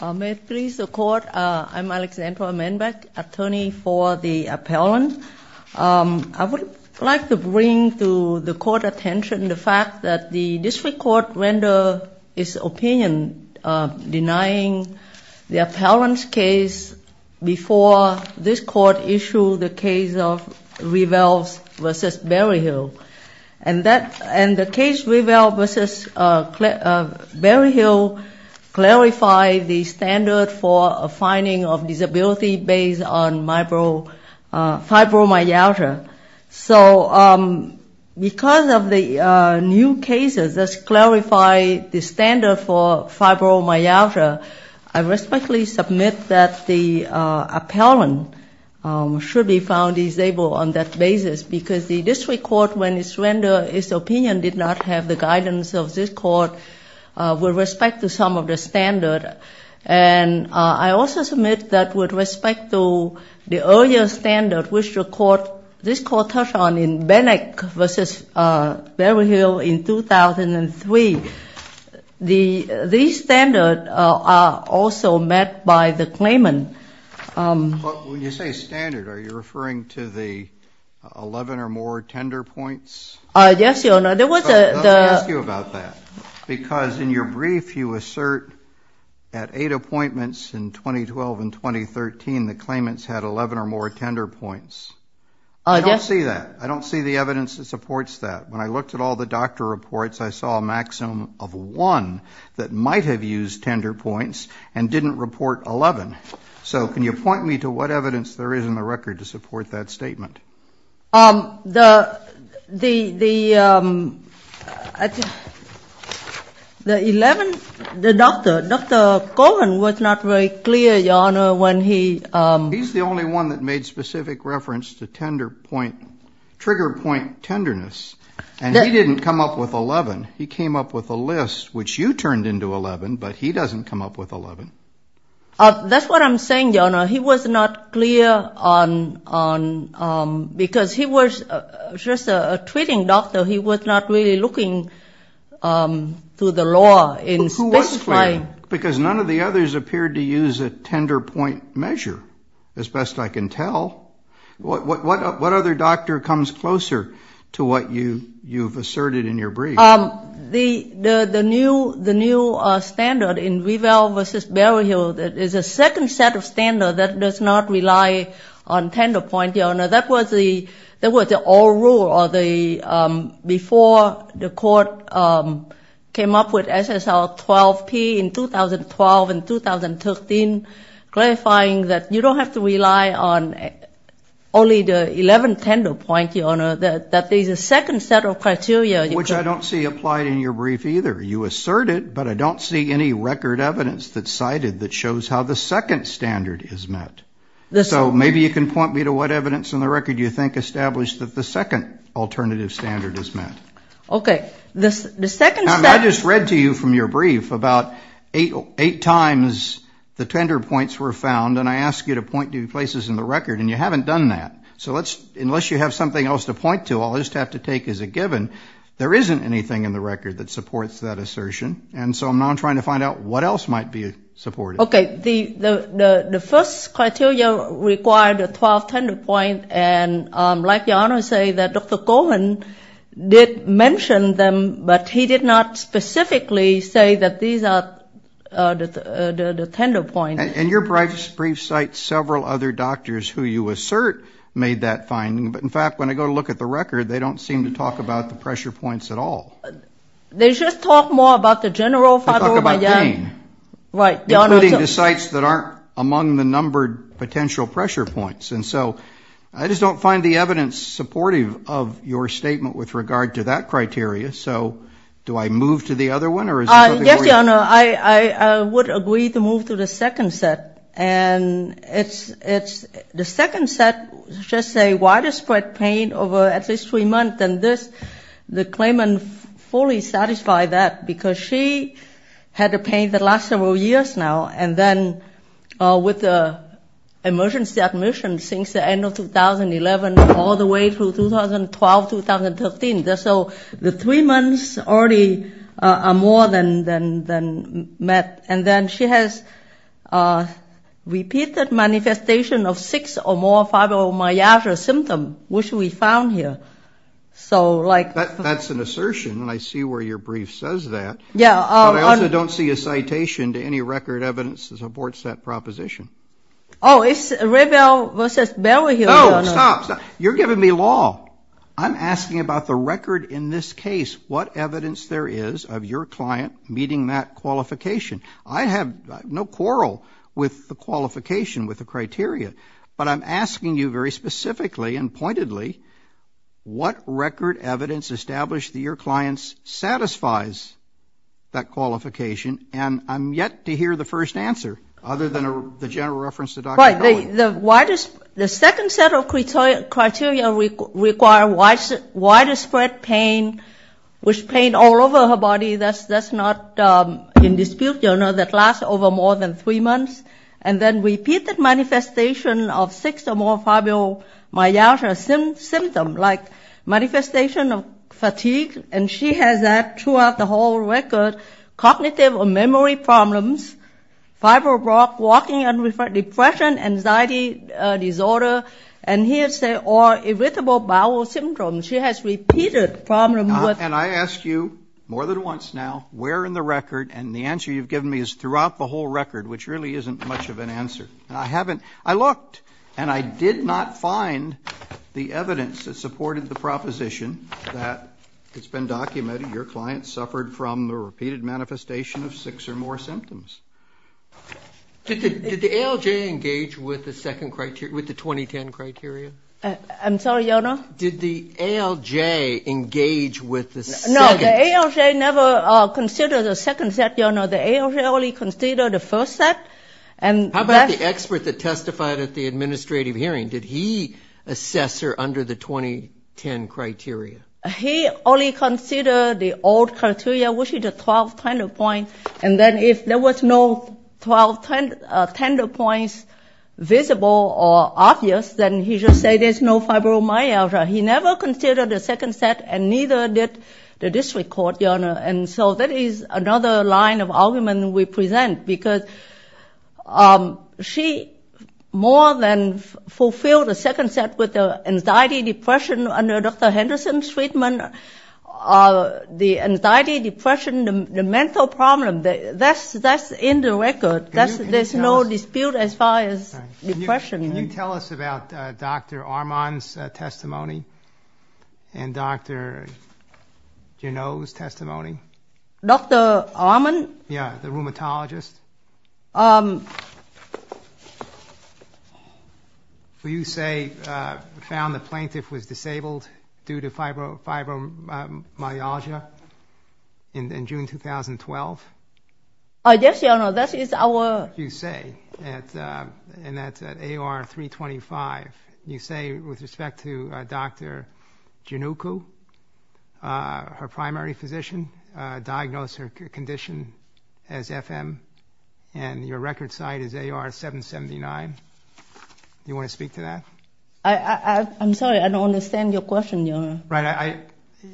I am Alexandra Manbeck, attorney for the appellant. I would like to bring to the court attention the fact that the district court rendered its opinion denying the appellant's case before this court issued the case of Reveld v. Berryhill. And the case Reveld v. Berryhill clarified the standard for a finding of disability based on fibromyalgia. So because of the new cases that clarify the standard for fibromyalgia, I respectfully submit that the appellant should be found disabled on that basis because the district court, when it rendered its opinion, did not have the guidance of this court with respect to some of the standard. And I also submit that with respect to the earlier standard which this court touched on in Bennett v. Berryhill in 2003, these standards are also met by the claimant. But when you say standard, are you referring to the 11 or more tender points? Yes, Your Honor. Let me ask you about that. Because in your brief, you assert at eight appointments in 2012 and 2013, the claimants had 11 or more tender points. I don't see that. I don't see the evidence that supports that. When I looked at all the doctor reports, I saw a maximum of one that might have used tender points and didn't report 11. So can you point me to what evidence there is in the record to support that statement? The 11, the doctor, Dr. Cohen, was not very clear, Your Honor, when he ---- He's the only one that made specific reference to trigger point tenderness. And he didn't come up with 11. He came up with a list which you turned into 11, but he doesn't come up with 11. That's what I'm saying, Your Honor. He was not clear on ---- because he was just a treating doctor. He was not really looking through the law in specifying. But who was clear? Because none of the others appeared to use a tender point measure, as best I can tell. What other doctor comes closer to what you've asserted in your brief? The new standard in Weavell v. Berryhill is a second set of standard that does not rely on tender point, Your Honor. That was the old rule before the court came up with SSL 12P in 2012 and 2013, clarifying that you don't have to rely on only the 11 tender point, Your Honor, that there's a second set of criteria. Which I don't see applied in your brief either. You assert it, but I don't see any record evidence that's cited that shows how the second standard is met. So maybe you can point me to what evidence in the record you think established that the second alternative standard is met. Okay. I just read to you from your brief about eight times the tender points were found, and I asked you to point to places in the record, and you haven't done that. So unless you have something else to point to, I'll just have to take as a given, there isn't anything in the record that supports that assertion. And so I'm now trying to find out what else might be supported. Okay. The first criteria required a 12 tender point, and like Your Honor say, that Dr. Coleman did mention them, but he did not specifically say that these are the tender points. And your brief cites several other doctors who you assert made that finding. But, in fact, when I go to look at the record, they don't seem to talk about the pressure points at all. They just talk more about the general 5-over-by-10. They talk about gain. Right, Your Honor. Including the sites that aren't among the numbered potential pressure points. And so I just don't find the evidence supportive of your statement with regard to that criteria. So do I move to the other one? Yes, Your Honor. I would agree to move to the second set. And it's the second set, just say widespread pain over at least three months, and this, the claimant fully satisfied that because she had the pain that lasts several years now, and then with the emergency admission since the end of 2011 all the way through 2012, 2013. So the three months already are more than met. And then she has repeated manifestation of six or more fibromyalgia symptoms, which we found here. So, like. That's an assertion, and I see where your brief says that. Yeah. But I also don't see a citation to any record evidence that supports that proposition. Oh, it's Revell versus Berwhiel, Your Honor. No, stop. You're giving me law. I'm asking about the record in this case, what evidence there is of your client meeting that qualification. I have no quarrel with the qualification, with the criteria, but I'm asking you very specifically and pointedly what record evidence established that your client satisfies that qualification, and I'm yet to hear the first answer other than the general reference to Dr. Noland. Right. The second set of criteria require widespread pain, which pain all over her body. That's not in dispute, Your Honor, that lasts over more than three months. And then repeated manifestation of six or more fibromyalgia symptoms, like manifestation of fatigue, and she has that throughout the whole record. Cognitive or memory problems, fibromyalgia, walking, depression, anxiety disorder, and here it says irritable bowel symptoms. She has repeated problems with. And I ask you more than once now, where in the record, and the answer you've given me is throughout the whole record, which really isn't much of an answer. I haven't. I looked, and I did not find the evidence that supported the proposition that it's been documented. Your client suffered from the repeated manifestation of six or more symptoms. Did the ALJ engage with the second criteria, with the 2010 criteria? I'm sorry, Your Honor? Did the ALJ engage with the second? No, the ALJ never considered the second set, Your Honor. The ALJ only considered the first set. How about the expert that testified at the administrative hearing? Did he assess her under the 2010 criteria? He only considered the old criteria, which is the 12 tender points, and then if there was no 12 tender points visible or obvious, then he should say there's no fibromyalgia. He never considered the second set, and neither did the district court, Your Honor. And so that is another line of argument we present, because she more than fulfilled the second set with anxiety, depression under Dr. Henderson's treatment. The anxiety, depression, the mental problem, that's in the record. There's no dispute as far as depression. Your Honor, can you tell us about Dr. Armand's testimony and Dr. Janot's testimony? Dr. Armand? Yeah, the rheumatologist. Will you say found the plaintiff was disabled due to fibromyalgia in June 2012? Oh, yes, Your Honor, that is our- What you say in that AR-325, you say with respect to Dr. Janot, her primary physician, diagnosed her condition as FM, and your record site is AR-779. Do you want to speak to that? I'm sorry. I don't understand your question, Your Honor. Right.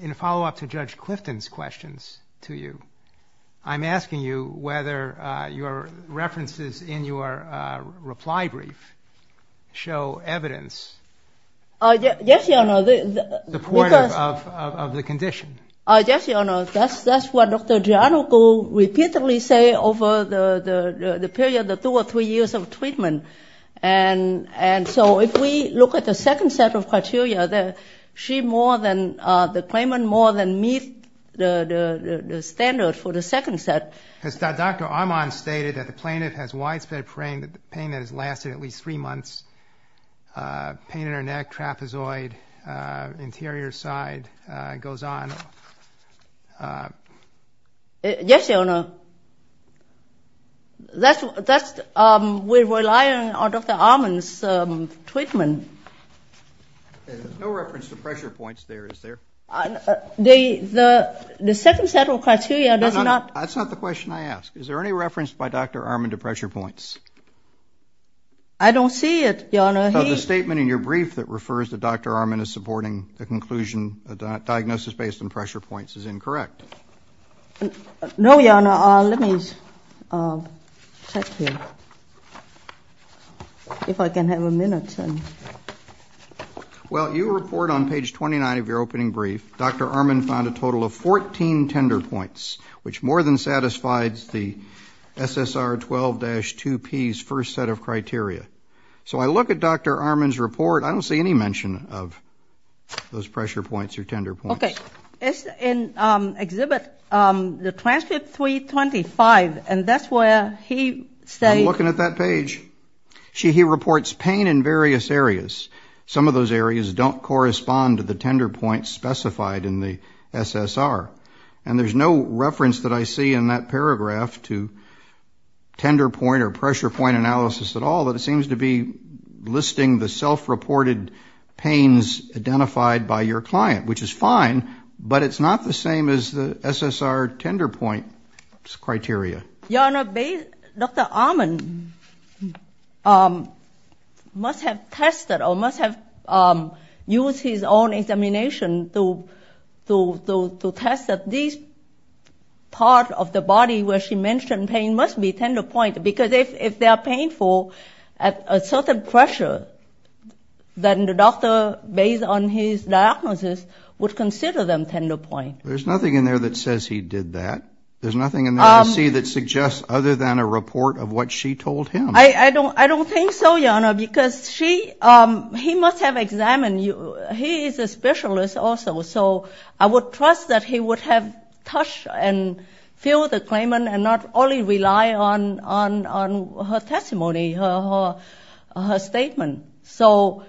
In a follow-up to Judge Clifton's questions to you, I'm asking you whether your references in your reply brief show evidence- Yes, Your Honor. Supportive of the condition. Yes, Your Honor. That's what Dr. Janot repeatedly say over the period, the two or three years of treatment. And so if we look at the second set of criteria, she more than-the claimant more than meets the standard for the second set. Has Dr. Armand stated that the plaintiff has widespread pain that has lasted at least three months, pain in her neck, trapezoid, interior side, goes on? Yes, Your Honor. That's-we rely on Dr. Armand's treatment. There's no reference to pressure points there, is there? The second set of criteria does not- That's not the question I asked. Is there any reference by Dr. Armand to pressure points? I don't see it, Your Honor. So the statement in your brief that refers to Dr. Armand as supporting the conclusion that diagnosis based on pressure points is incorrect. No, Your Honor. Let me check here if I can have a minute. Well, your report on page 29 of your opening brief, Dr. Armand found a total of 14 tender points, which more than satisfies the SSR 12-2P's first set of criteria. So I look at Dr. Armand's report, I don't see any mention of those pressure points or tender points. Okay, it's in Exhibit 325, and that's where he states- I'm looking at that page. He reports pain in various areas. Some of those areas don't correspond to the tender points specified in the SSR. And there's no reference that I see in that paragraph to tender point or pressure point analysis at all, but it seems to be listing the self-reported pains identified by your client, which is fine, but it's not the same as the SSR tender point criteria. Your Honor, Dr. Armand must have tested or must have used his own examination to test that this part of the body where she mentioned pain must be tender point, because if they are painful at a certain pressure, then the doctor, based on his diagnosis, would consider them tender point. There's nothing in there that says he did that. There's nothing in there I see that suggests other than a report of what she told him. I don't think so, Your Honor, because he must have examined you. He is a specialist also, so I would trust that he would have touched and filled the claimant and not only rely on her testimony, her statement. So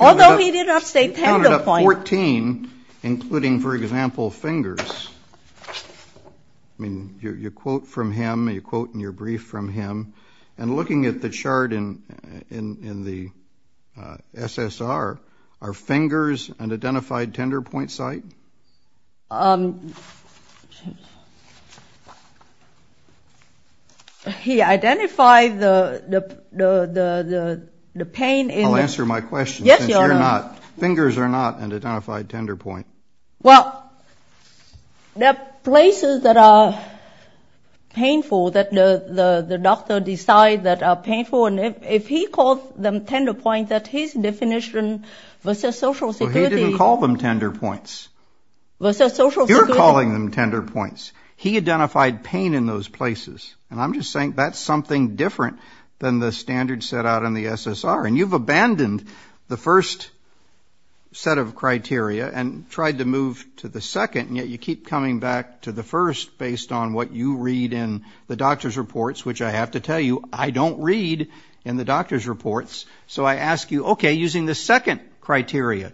although he did not say tender point- You counted up 14, including, for example, fingers. I mean, you quote from him, you quote in your brief from him, and looking at the chart in the SSR, are fingers an identified tender point site? He identified the pain in- I'll answer my question. Yes, Your Honor. Fingers are not an identified tender point. Well, there are places that are painful, that the doctor decides that are painful, and if he calls them tender point, that his definition versus Social Security- Well, he didn't call them tender points. Versus Social Security- You're calling them tender points. He identified pain in those places, and I'm just saying that's something different than the standards set out in the SSR, and you've abandoned the first set of criteria and tried to move to the second, and yet you keep coming back to the first based on what you read in the doctor's reports, which I have to tell you, I don't read in the doctor's reports. So I ask you, okay, using the second criteria,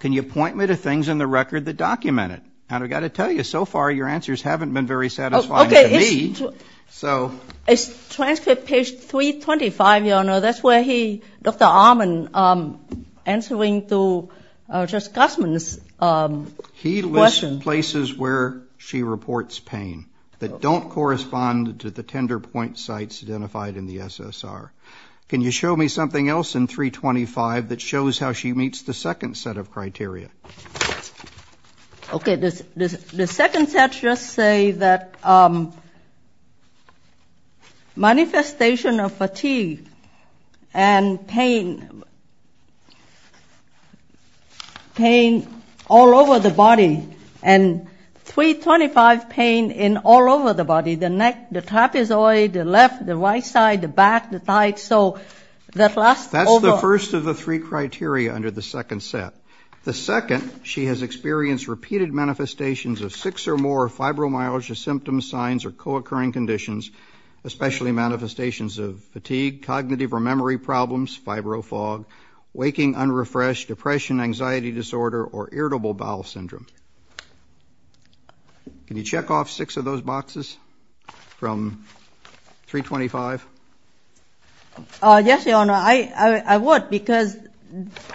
can you point me to things in the record that document it? And I've got to tell you, so far your answers haven't been very satisfying to me. It's transcript page 325, Your Honor. So that's where he, Dr. Allman, answering to Judge Gossman's question. He lists places where she reports pain that don't correspond to the tender point sites identified in the SSR. Can you show me something else in 325 that shows how she meets the second set of criteria? Okay. The second set just say that manifestation of fatigue and pain, pain all over the body, and 325 pain in all over the body, the neck, the trapezoid, the left, the right side, the back, the thighs, so that last over. That's the first of the three criteria under the second set. The second, she has experienced repeated manifestations of six or more fibromyalgia symptoms, signs, or co-occurring conditions, especially manifestations of fatigue, cognitive or memory problems, fibro fog, waking unrefreshed, depression, anxiety disorder, or irritable bowel syndrome. Can you check off six of those boxes from 325? Yes, Your Honor. I would because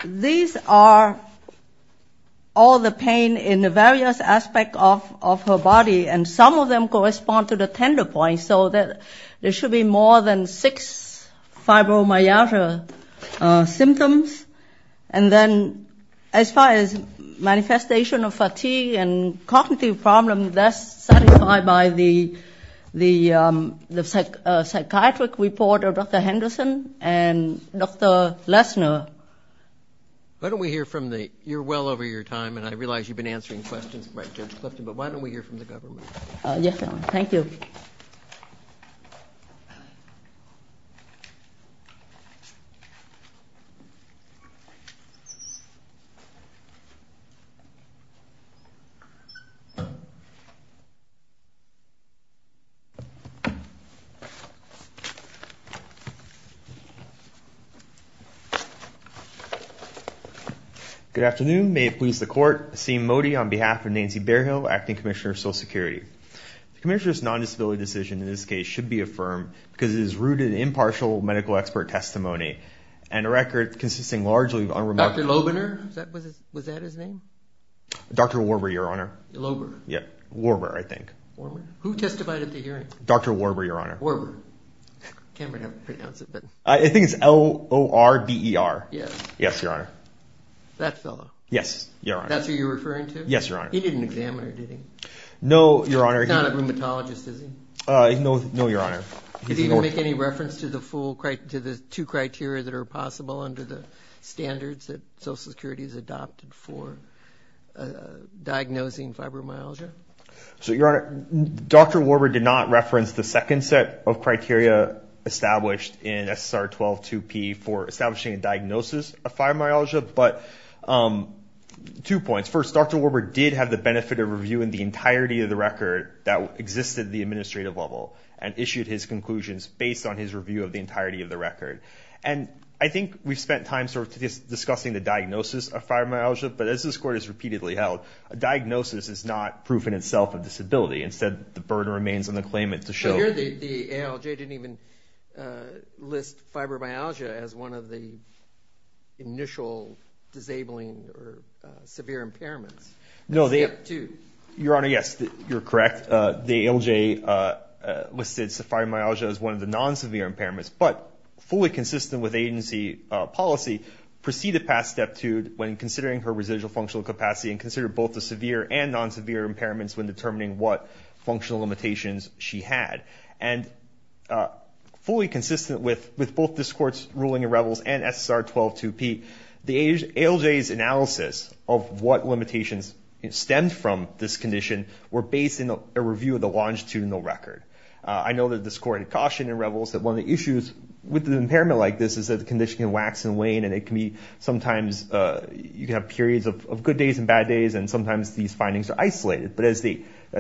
these are all the pain in the various aspects of her body, and some of them correspond to the tender point, so there should be more than six fibromyalgia symptoms. And then as far as manifestation of fatigue and cognitive problems, I think that's satisfied by the psychiatric report of Dr. Henderson and Dr. Lesner. Why don't we hear from the you're well over your time, and I realize you've been answering questions by Judge Clifton, but why don't we hear from the government? Yes, Your Honor. Thank you. Good afternoon. I'm Dr. Asim Modi on behalf of Nancy Bearhill, Acting Commissioner of Social Security. The commissioner's non-disability decision in this case should be affirmed because it is rooted in impartial medical expert testimony, and a record consisting largely of unremarkable. Dr. Lobener? Was that his name? Dr. Warbur, Your Honor. Lober. Warbur, I think. Warbur. Who testified at the hearing? Dr. Warbur, Your Honor. Warbur. I can't pronounce it. I think it's L-O-R-B-E-R. Yes. Yes, Your Honor. That fellow. Yes, Your Honor. That's who you're referring to? Yes, Your Honor. He didn't examine her, did he? No, Your Honor. He's not a rheumatologist, is he? No, Your Honor. Did he even make any reference to the two criteria that are possible under the standards that Social Security has adopted for diagnosing fibromyalgia? So, Your Honor, Dr. Warbur did not reference the second set of criteria established in SSR 12-2P for establishing a diagnosis of fibromyalgia, but two points. First, Dr. Warbur did have the benefit of reviewing the entirety of the record that existed at the administrative level and issued his conclusions based on his review of the entirety of the record. And I think we've spent time sort of discussing the diagnosis of fibromyalgia, but as this Court has repeatedly held, a diagnosis is not proof in itself of disability. Instead, the burden remains on the claimant to show. I hear the ALJ didn't even list fibromyalgia as one of the initial disabling or severe impairments. No, Your Honor, yes, you're correct. The ALJ listed fibromyalgia as one of the non-severe impairments, but fully consistent with agency policy, proceeded past Step 2 when considering her residual functional capacity and considered both the severe and non-severe impairments when determining what functional limitations she had. And fully consistent with both this Court's ruling in Revels and SSR 12-2P, the ALJ's analysis of what limitations stemmed from this condition were based in a review of the longitudinal record. I know that this Court had cautioned in Revels that one of the issues with an impairment like this is that the condition can wax and wane, and it can be sometimes, you can have periods of good days and bad days, and sometimes these findings are isolated. But as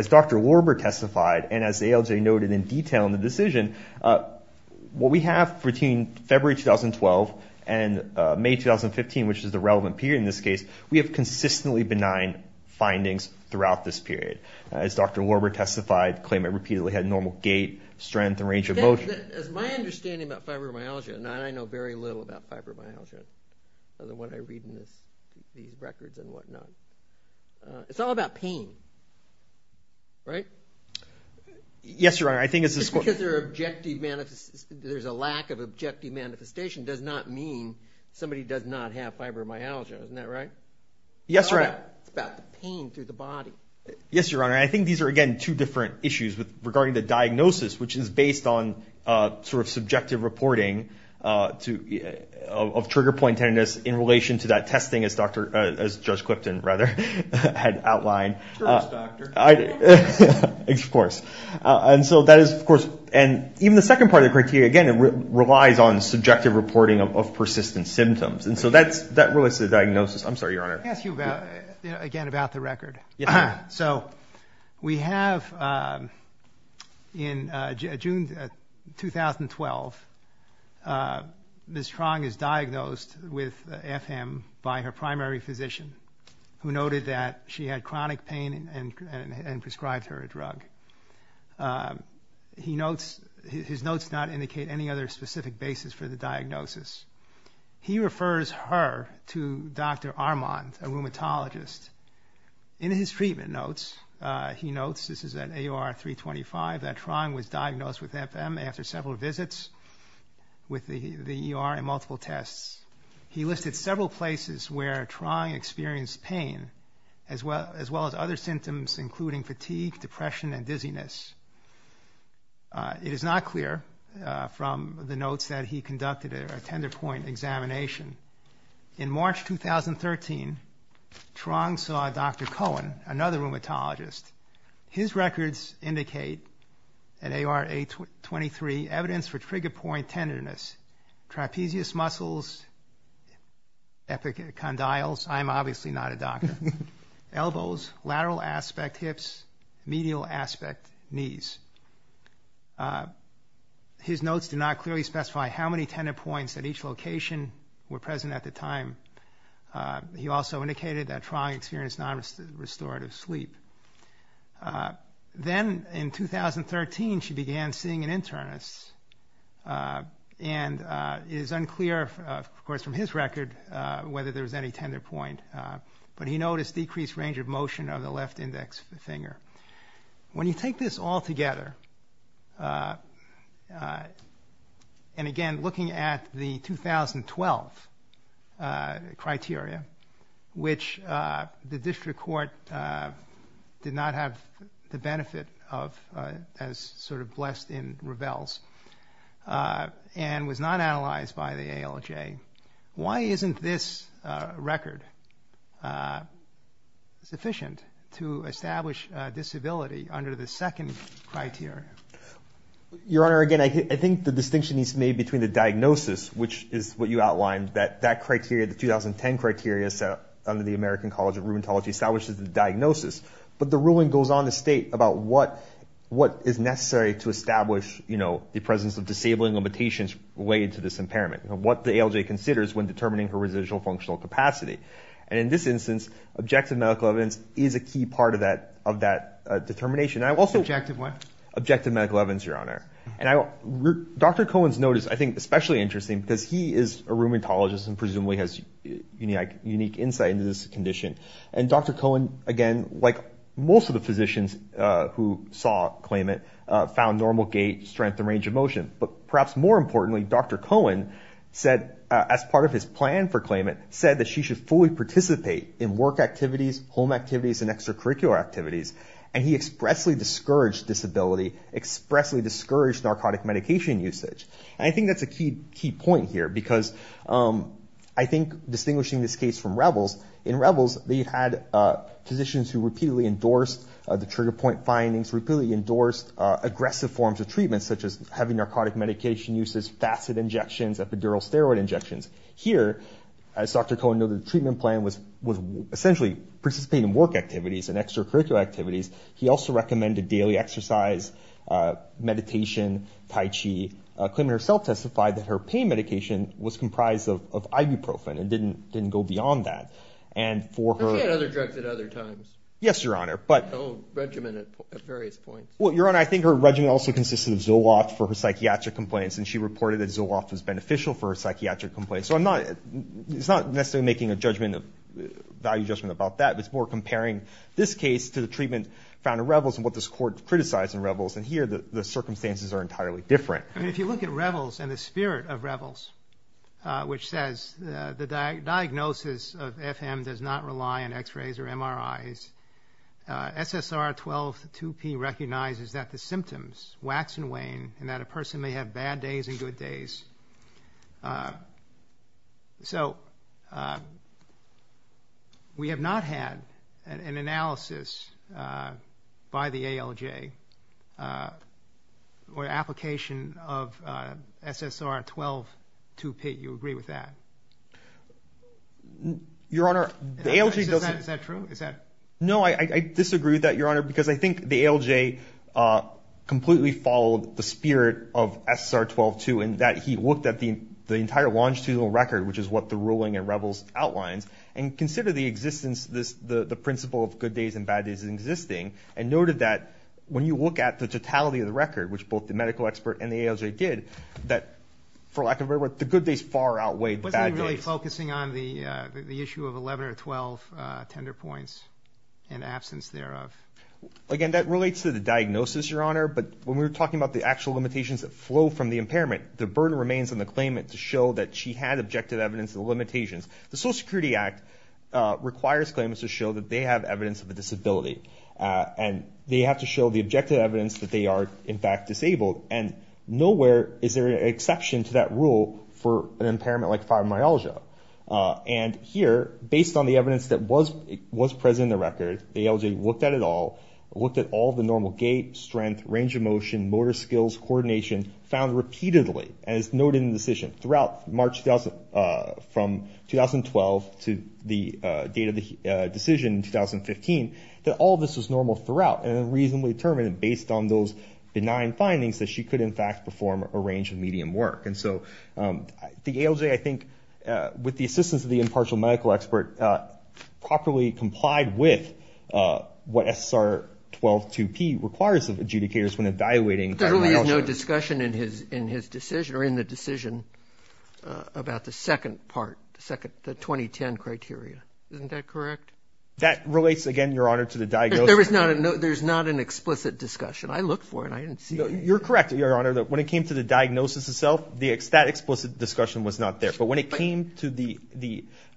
Dr. Lorber testified, and as the ALJ noted in detail in the decision, what we have between February 2012 and May 2015, which is the relevant period in this case, we have consistently benign findings throughout this period. As Dr. Lorber testified, the claimant repeatedly had normal gait, strength, and range of motion. As my understanding about fibromyalgia, and I know very little about fibromyalgia, other than what I read in these records and whatnot, it's all about pain, right? Yes, Your Honor. Just because there's a lack of objective manifestation does not mean somebody does not have fibromyalgia. Isn't that right? Yes, Your Honor. It's about the pain through the body. Yes, Your Honor. I think these are, again, two different issues regarding the diagnosis, which is based on sort of subjective reporting of trigger point tenderness in relation to that testing, as Judge Clipton, rather, had outlined. Sure is, Doctor. Of course. And so that is, of course, and even the second part of the criteria, again, relies on subjective reporting of persistent symptoms. And so that relates to the diagnosis. I'm sorry, Your Honor. Let me ask you, again, about the record. So we have in June 2012, Ms. Trong is diagnosed with FM by her primary physician, who noted that she had chronic pain and prescribed her a drug. His notes do not indicate any other specific basis for the diagnosis. He refers her to Dr. Armand, a rheumatologist. In his treatment notes, he notes, this is at AOR 325, that Trong was diagnosed with FM after several visits with the ER and multiple tests. He listed several places where Trong experienced pain, as well as other symptoms including fatigue, depression, and dizziness. It is not clear from the notes that he conducted a tender point examination. In March 2013, Trong saw Dr. Cohen, another rheumatologist. His records indicate at AOR 823, evidence for trigger point tenderness, trapezius muscles, epicondyles. I'm obviously not a doctor. Elbows, lateral aspect hips, medial aspect knees. His notes do not clearly specify how many tender points at each location were present at the time. He also indicated that Trong experienced non-restorative sleep. Then in 2013, she began seeing an internist. And it is unclear, of course, from his record, whether there was any tender point. But he noticed decreased range of motion of the left index finger. When you take this all together, and again looking at the 2012 criteria, which the district court did not have the benefit of, as sort of blessed in Ravel's, and was not analyzed by the ALJ, why isn't this record sufficient to establish disability under the second criteria? Your Honor, again, I think the distinction needs to be made between the diagnosis, which is what you outlined, that that criteria, the 2010 criteria set up under the American College of Rheumatology establishes the diagnosis. But the ruling goes on to state about what is necessary to establish, you know, the presence of disabling limitations related to this impairment. What the ALJ considers when determining her residual functional capacity. And in this instance, objective medical evidence is a key part of that determination. Objective what? Objective medical evidence, Your Honor. And Dr. Cohen's note is, I think, especially interesting because he is a rheumatologist and presumably has unique insight into this condition. And Dr. Cohen, again, like most of the physicians who saw, claim it, found normal gait, strength, and range of motion. But perhaps more importantly, Dr. Cohen said, as part of his plan for claimant, said that she should fully participate in work activities, home activities, and extracurricular activities. And he expressly discouraged disability, expressly discouraged narcotic medication usage. And I think that's a key point here because I think distinguishing this case from Rebels, in Rebels they had physicians who repeatedly endorsed the trigger point findings, repeatedly endorsed aggressive forms of treatment, such as having narcotic medication uses, facet injections, epidural steroid injections. Here, as Dr. Cohen noted, the treatment plan was essentially participating in work activities and extracurricular activities. He also recommended daily exercise, meditation, tai chi. Claimant herself testified that her pain medication was comprised of ibuprofen and didn't go beyond that. And for her- But she had other drugs at other times. Yes, Your Honor. But- Her own regimen at various points. Well, Your Honor, I think her regimen also consisted of Zoloft for her psychiatric complaints, and she reported that Zoloft was beneficial for her psychiatric complaints. So it's not necessarily making a value judgment about that. It's more comparing this case to the treatment found in Rebels and what this Court criticized in Rebels. And here the circumstances are entirely different. I mean, if you look at Rebels and the spirit of Rebels, which says the diagnosis of FM does not rely on X-rays or MRIs. SSR 12-2P recognizes that the symptoms wax and wane and that a person may have bad days and good days. So we have not had an analysis by the ALJ or application of SSR 12-2P. You agree with that? Your Honor, the ALJ doesn't- Is that true? Is that- No, I disagree with that, Your Honor, because I think the ALJ completely followed the spirit of SSR 12-2 and that he looked at the entire longitudinal record, which is what the ruling in Rebels outlines, and considered the existence, the principle of good days and bad days existing, and noted that when you look at the totality of the record, which both the medical expert and the ALJ did, that, for lack of a better word, the good days far outweighed the bad days. Wasn't he really focusing on the issue of 11 or 12 tender points and absence thereof? Again, that relates to the diagnosis, Your Honor, but when we were talking about the actual limitations that flow from the impairment, the burden remains on the claimant to show that she had objective evidence of the limitations. The Social Security Act requires claimants to show that they have evidence of a disability, and they have to show the objective evidence that they are, in fact, disabled, and nowhere is there an exception to that rule for an impairment like fibromyalgia. And here, based on the evidence that was present in the record, the ALJ looked at it all, looked at all the normal gait, strength, range of motion, motor skills, coordination, found repeatedly, and it's noted in the decision, throughout March 2012 to the date of the decision in 2015, that all of this was normal throughout, and reasonably determined, based on those benign findings, that she could, in fact, perform a range of medium work. And so the ALJ, I think, with the assistance of the impartial medical expert, properly complied with what SSR 12-2P requires of adjudicators when evaluating fibromyalgia. There really is no discussion in his decision, or in the decision, about the second part, the 2010 criteria. Isn't that correct? That relates, again, Your Honor, to the diagnosis. There's not an explicit discussion. I looked for it, and I didn't see it. You're correct, Your Honor. When it came to the diagnosis itself, that explicit discussion was not there. But when it came to the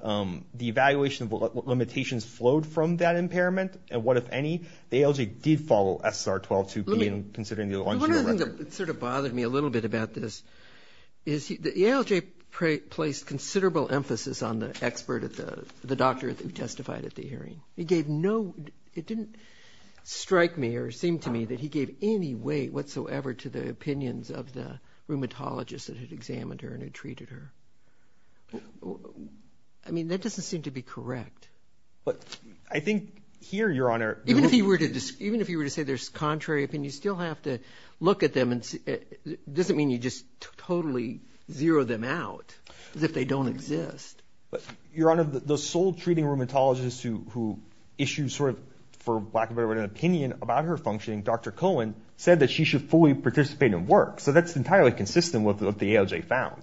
evaluation of what limitations flowed from that impairment, and what, if any, the ALJ did follow SSR 12-2P in considering the on-chemo record. The one thing that sort of bothered me a little bit about this is the ALJ placed considerable emphasis on the doctor who testified at the hearing. It didn't strike me or seem to me that he gave any weight whatsoever to the opinions of the rheumatologist that had examined her and had treated her. I mean, that doesn't seem to be correct. But I think here, Your Honor— Even if you were to say there's contrary opinions, you still have to look at them. It doesn't mean you just totally zero them out as if they don't exist. Your Honor, the sole treating rheumatologist who issued sort of, for lack of a better word, an opinion about her functioning, Dr. Cohen, said that she should fully participate in work. So that's entirely consistent with what the ALJ found.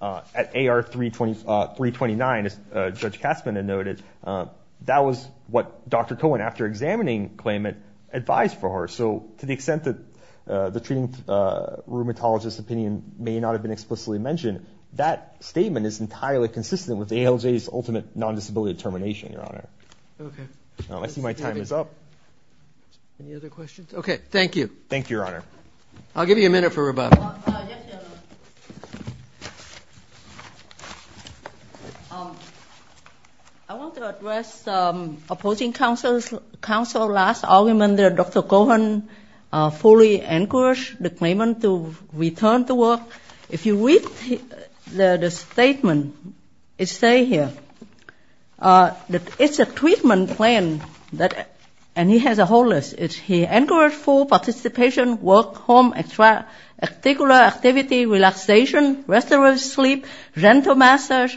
At AR 329, as Judge Katzmann had noted, that was what Dr. Cohen, after examining the claimant, advised for her. So to the extent that the treating rheumatologist's opinion may not have been explicitly mentioned, that statement is entirely consistent with the ALJ's ultimate non-disability determination, Your Honor. Okay. I see my time is up. Any other questions? Okay, thank you. Thank you, Your Honor. I'll give you a minute for rebuttal. Yes, Your Honor. I want to address opposing counsel's last argument that Dr. Cohen fully encouraged the claimant to return to work. If you read the statement, it says here that it's a treatment plan, and he has a whole list. He encouraged full participation, work, home, extracurricular activity, relaxation, restful sleep, gentle massage,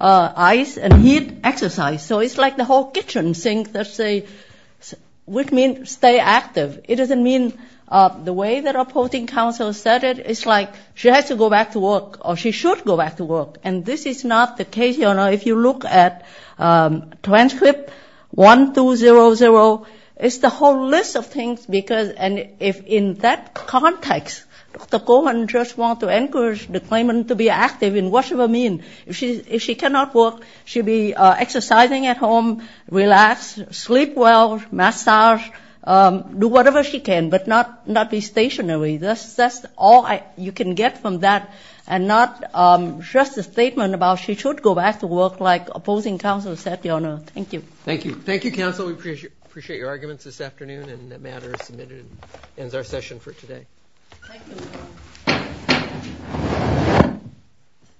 ice and heat, exercise. So it's like the whole kitchen sink, let's say, which means stay active. It doesn't mean the way that opposing counsel said it. It's like she has to go back to work, or she should go back to work. And this is not the case, Your Honor. If you look at transcript 1200, it's the whole list of things. And in that context, Dr. Cohen just wants to encourage the claimant to be active in whatever means. If she cannot work, she'll be exercising at home, relax, sleep well, massage, do whatever she can, but not be stationary. That's all you can get from that, and not just a statement about she should go back to work like opposing counsel said, Your Honor. Thank you. Thank you. Thank you, counsel. We appreciate your arguments this afternoon. And that matter is submitted and ends our session for today. Thank you.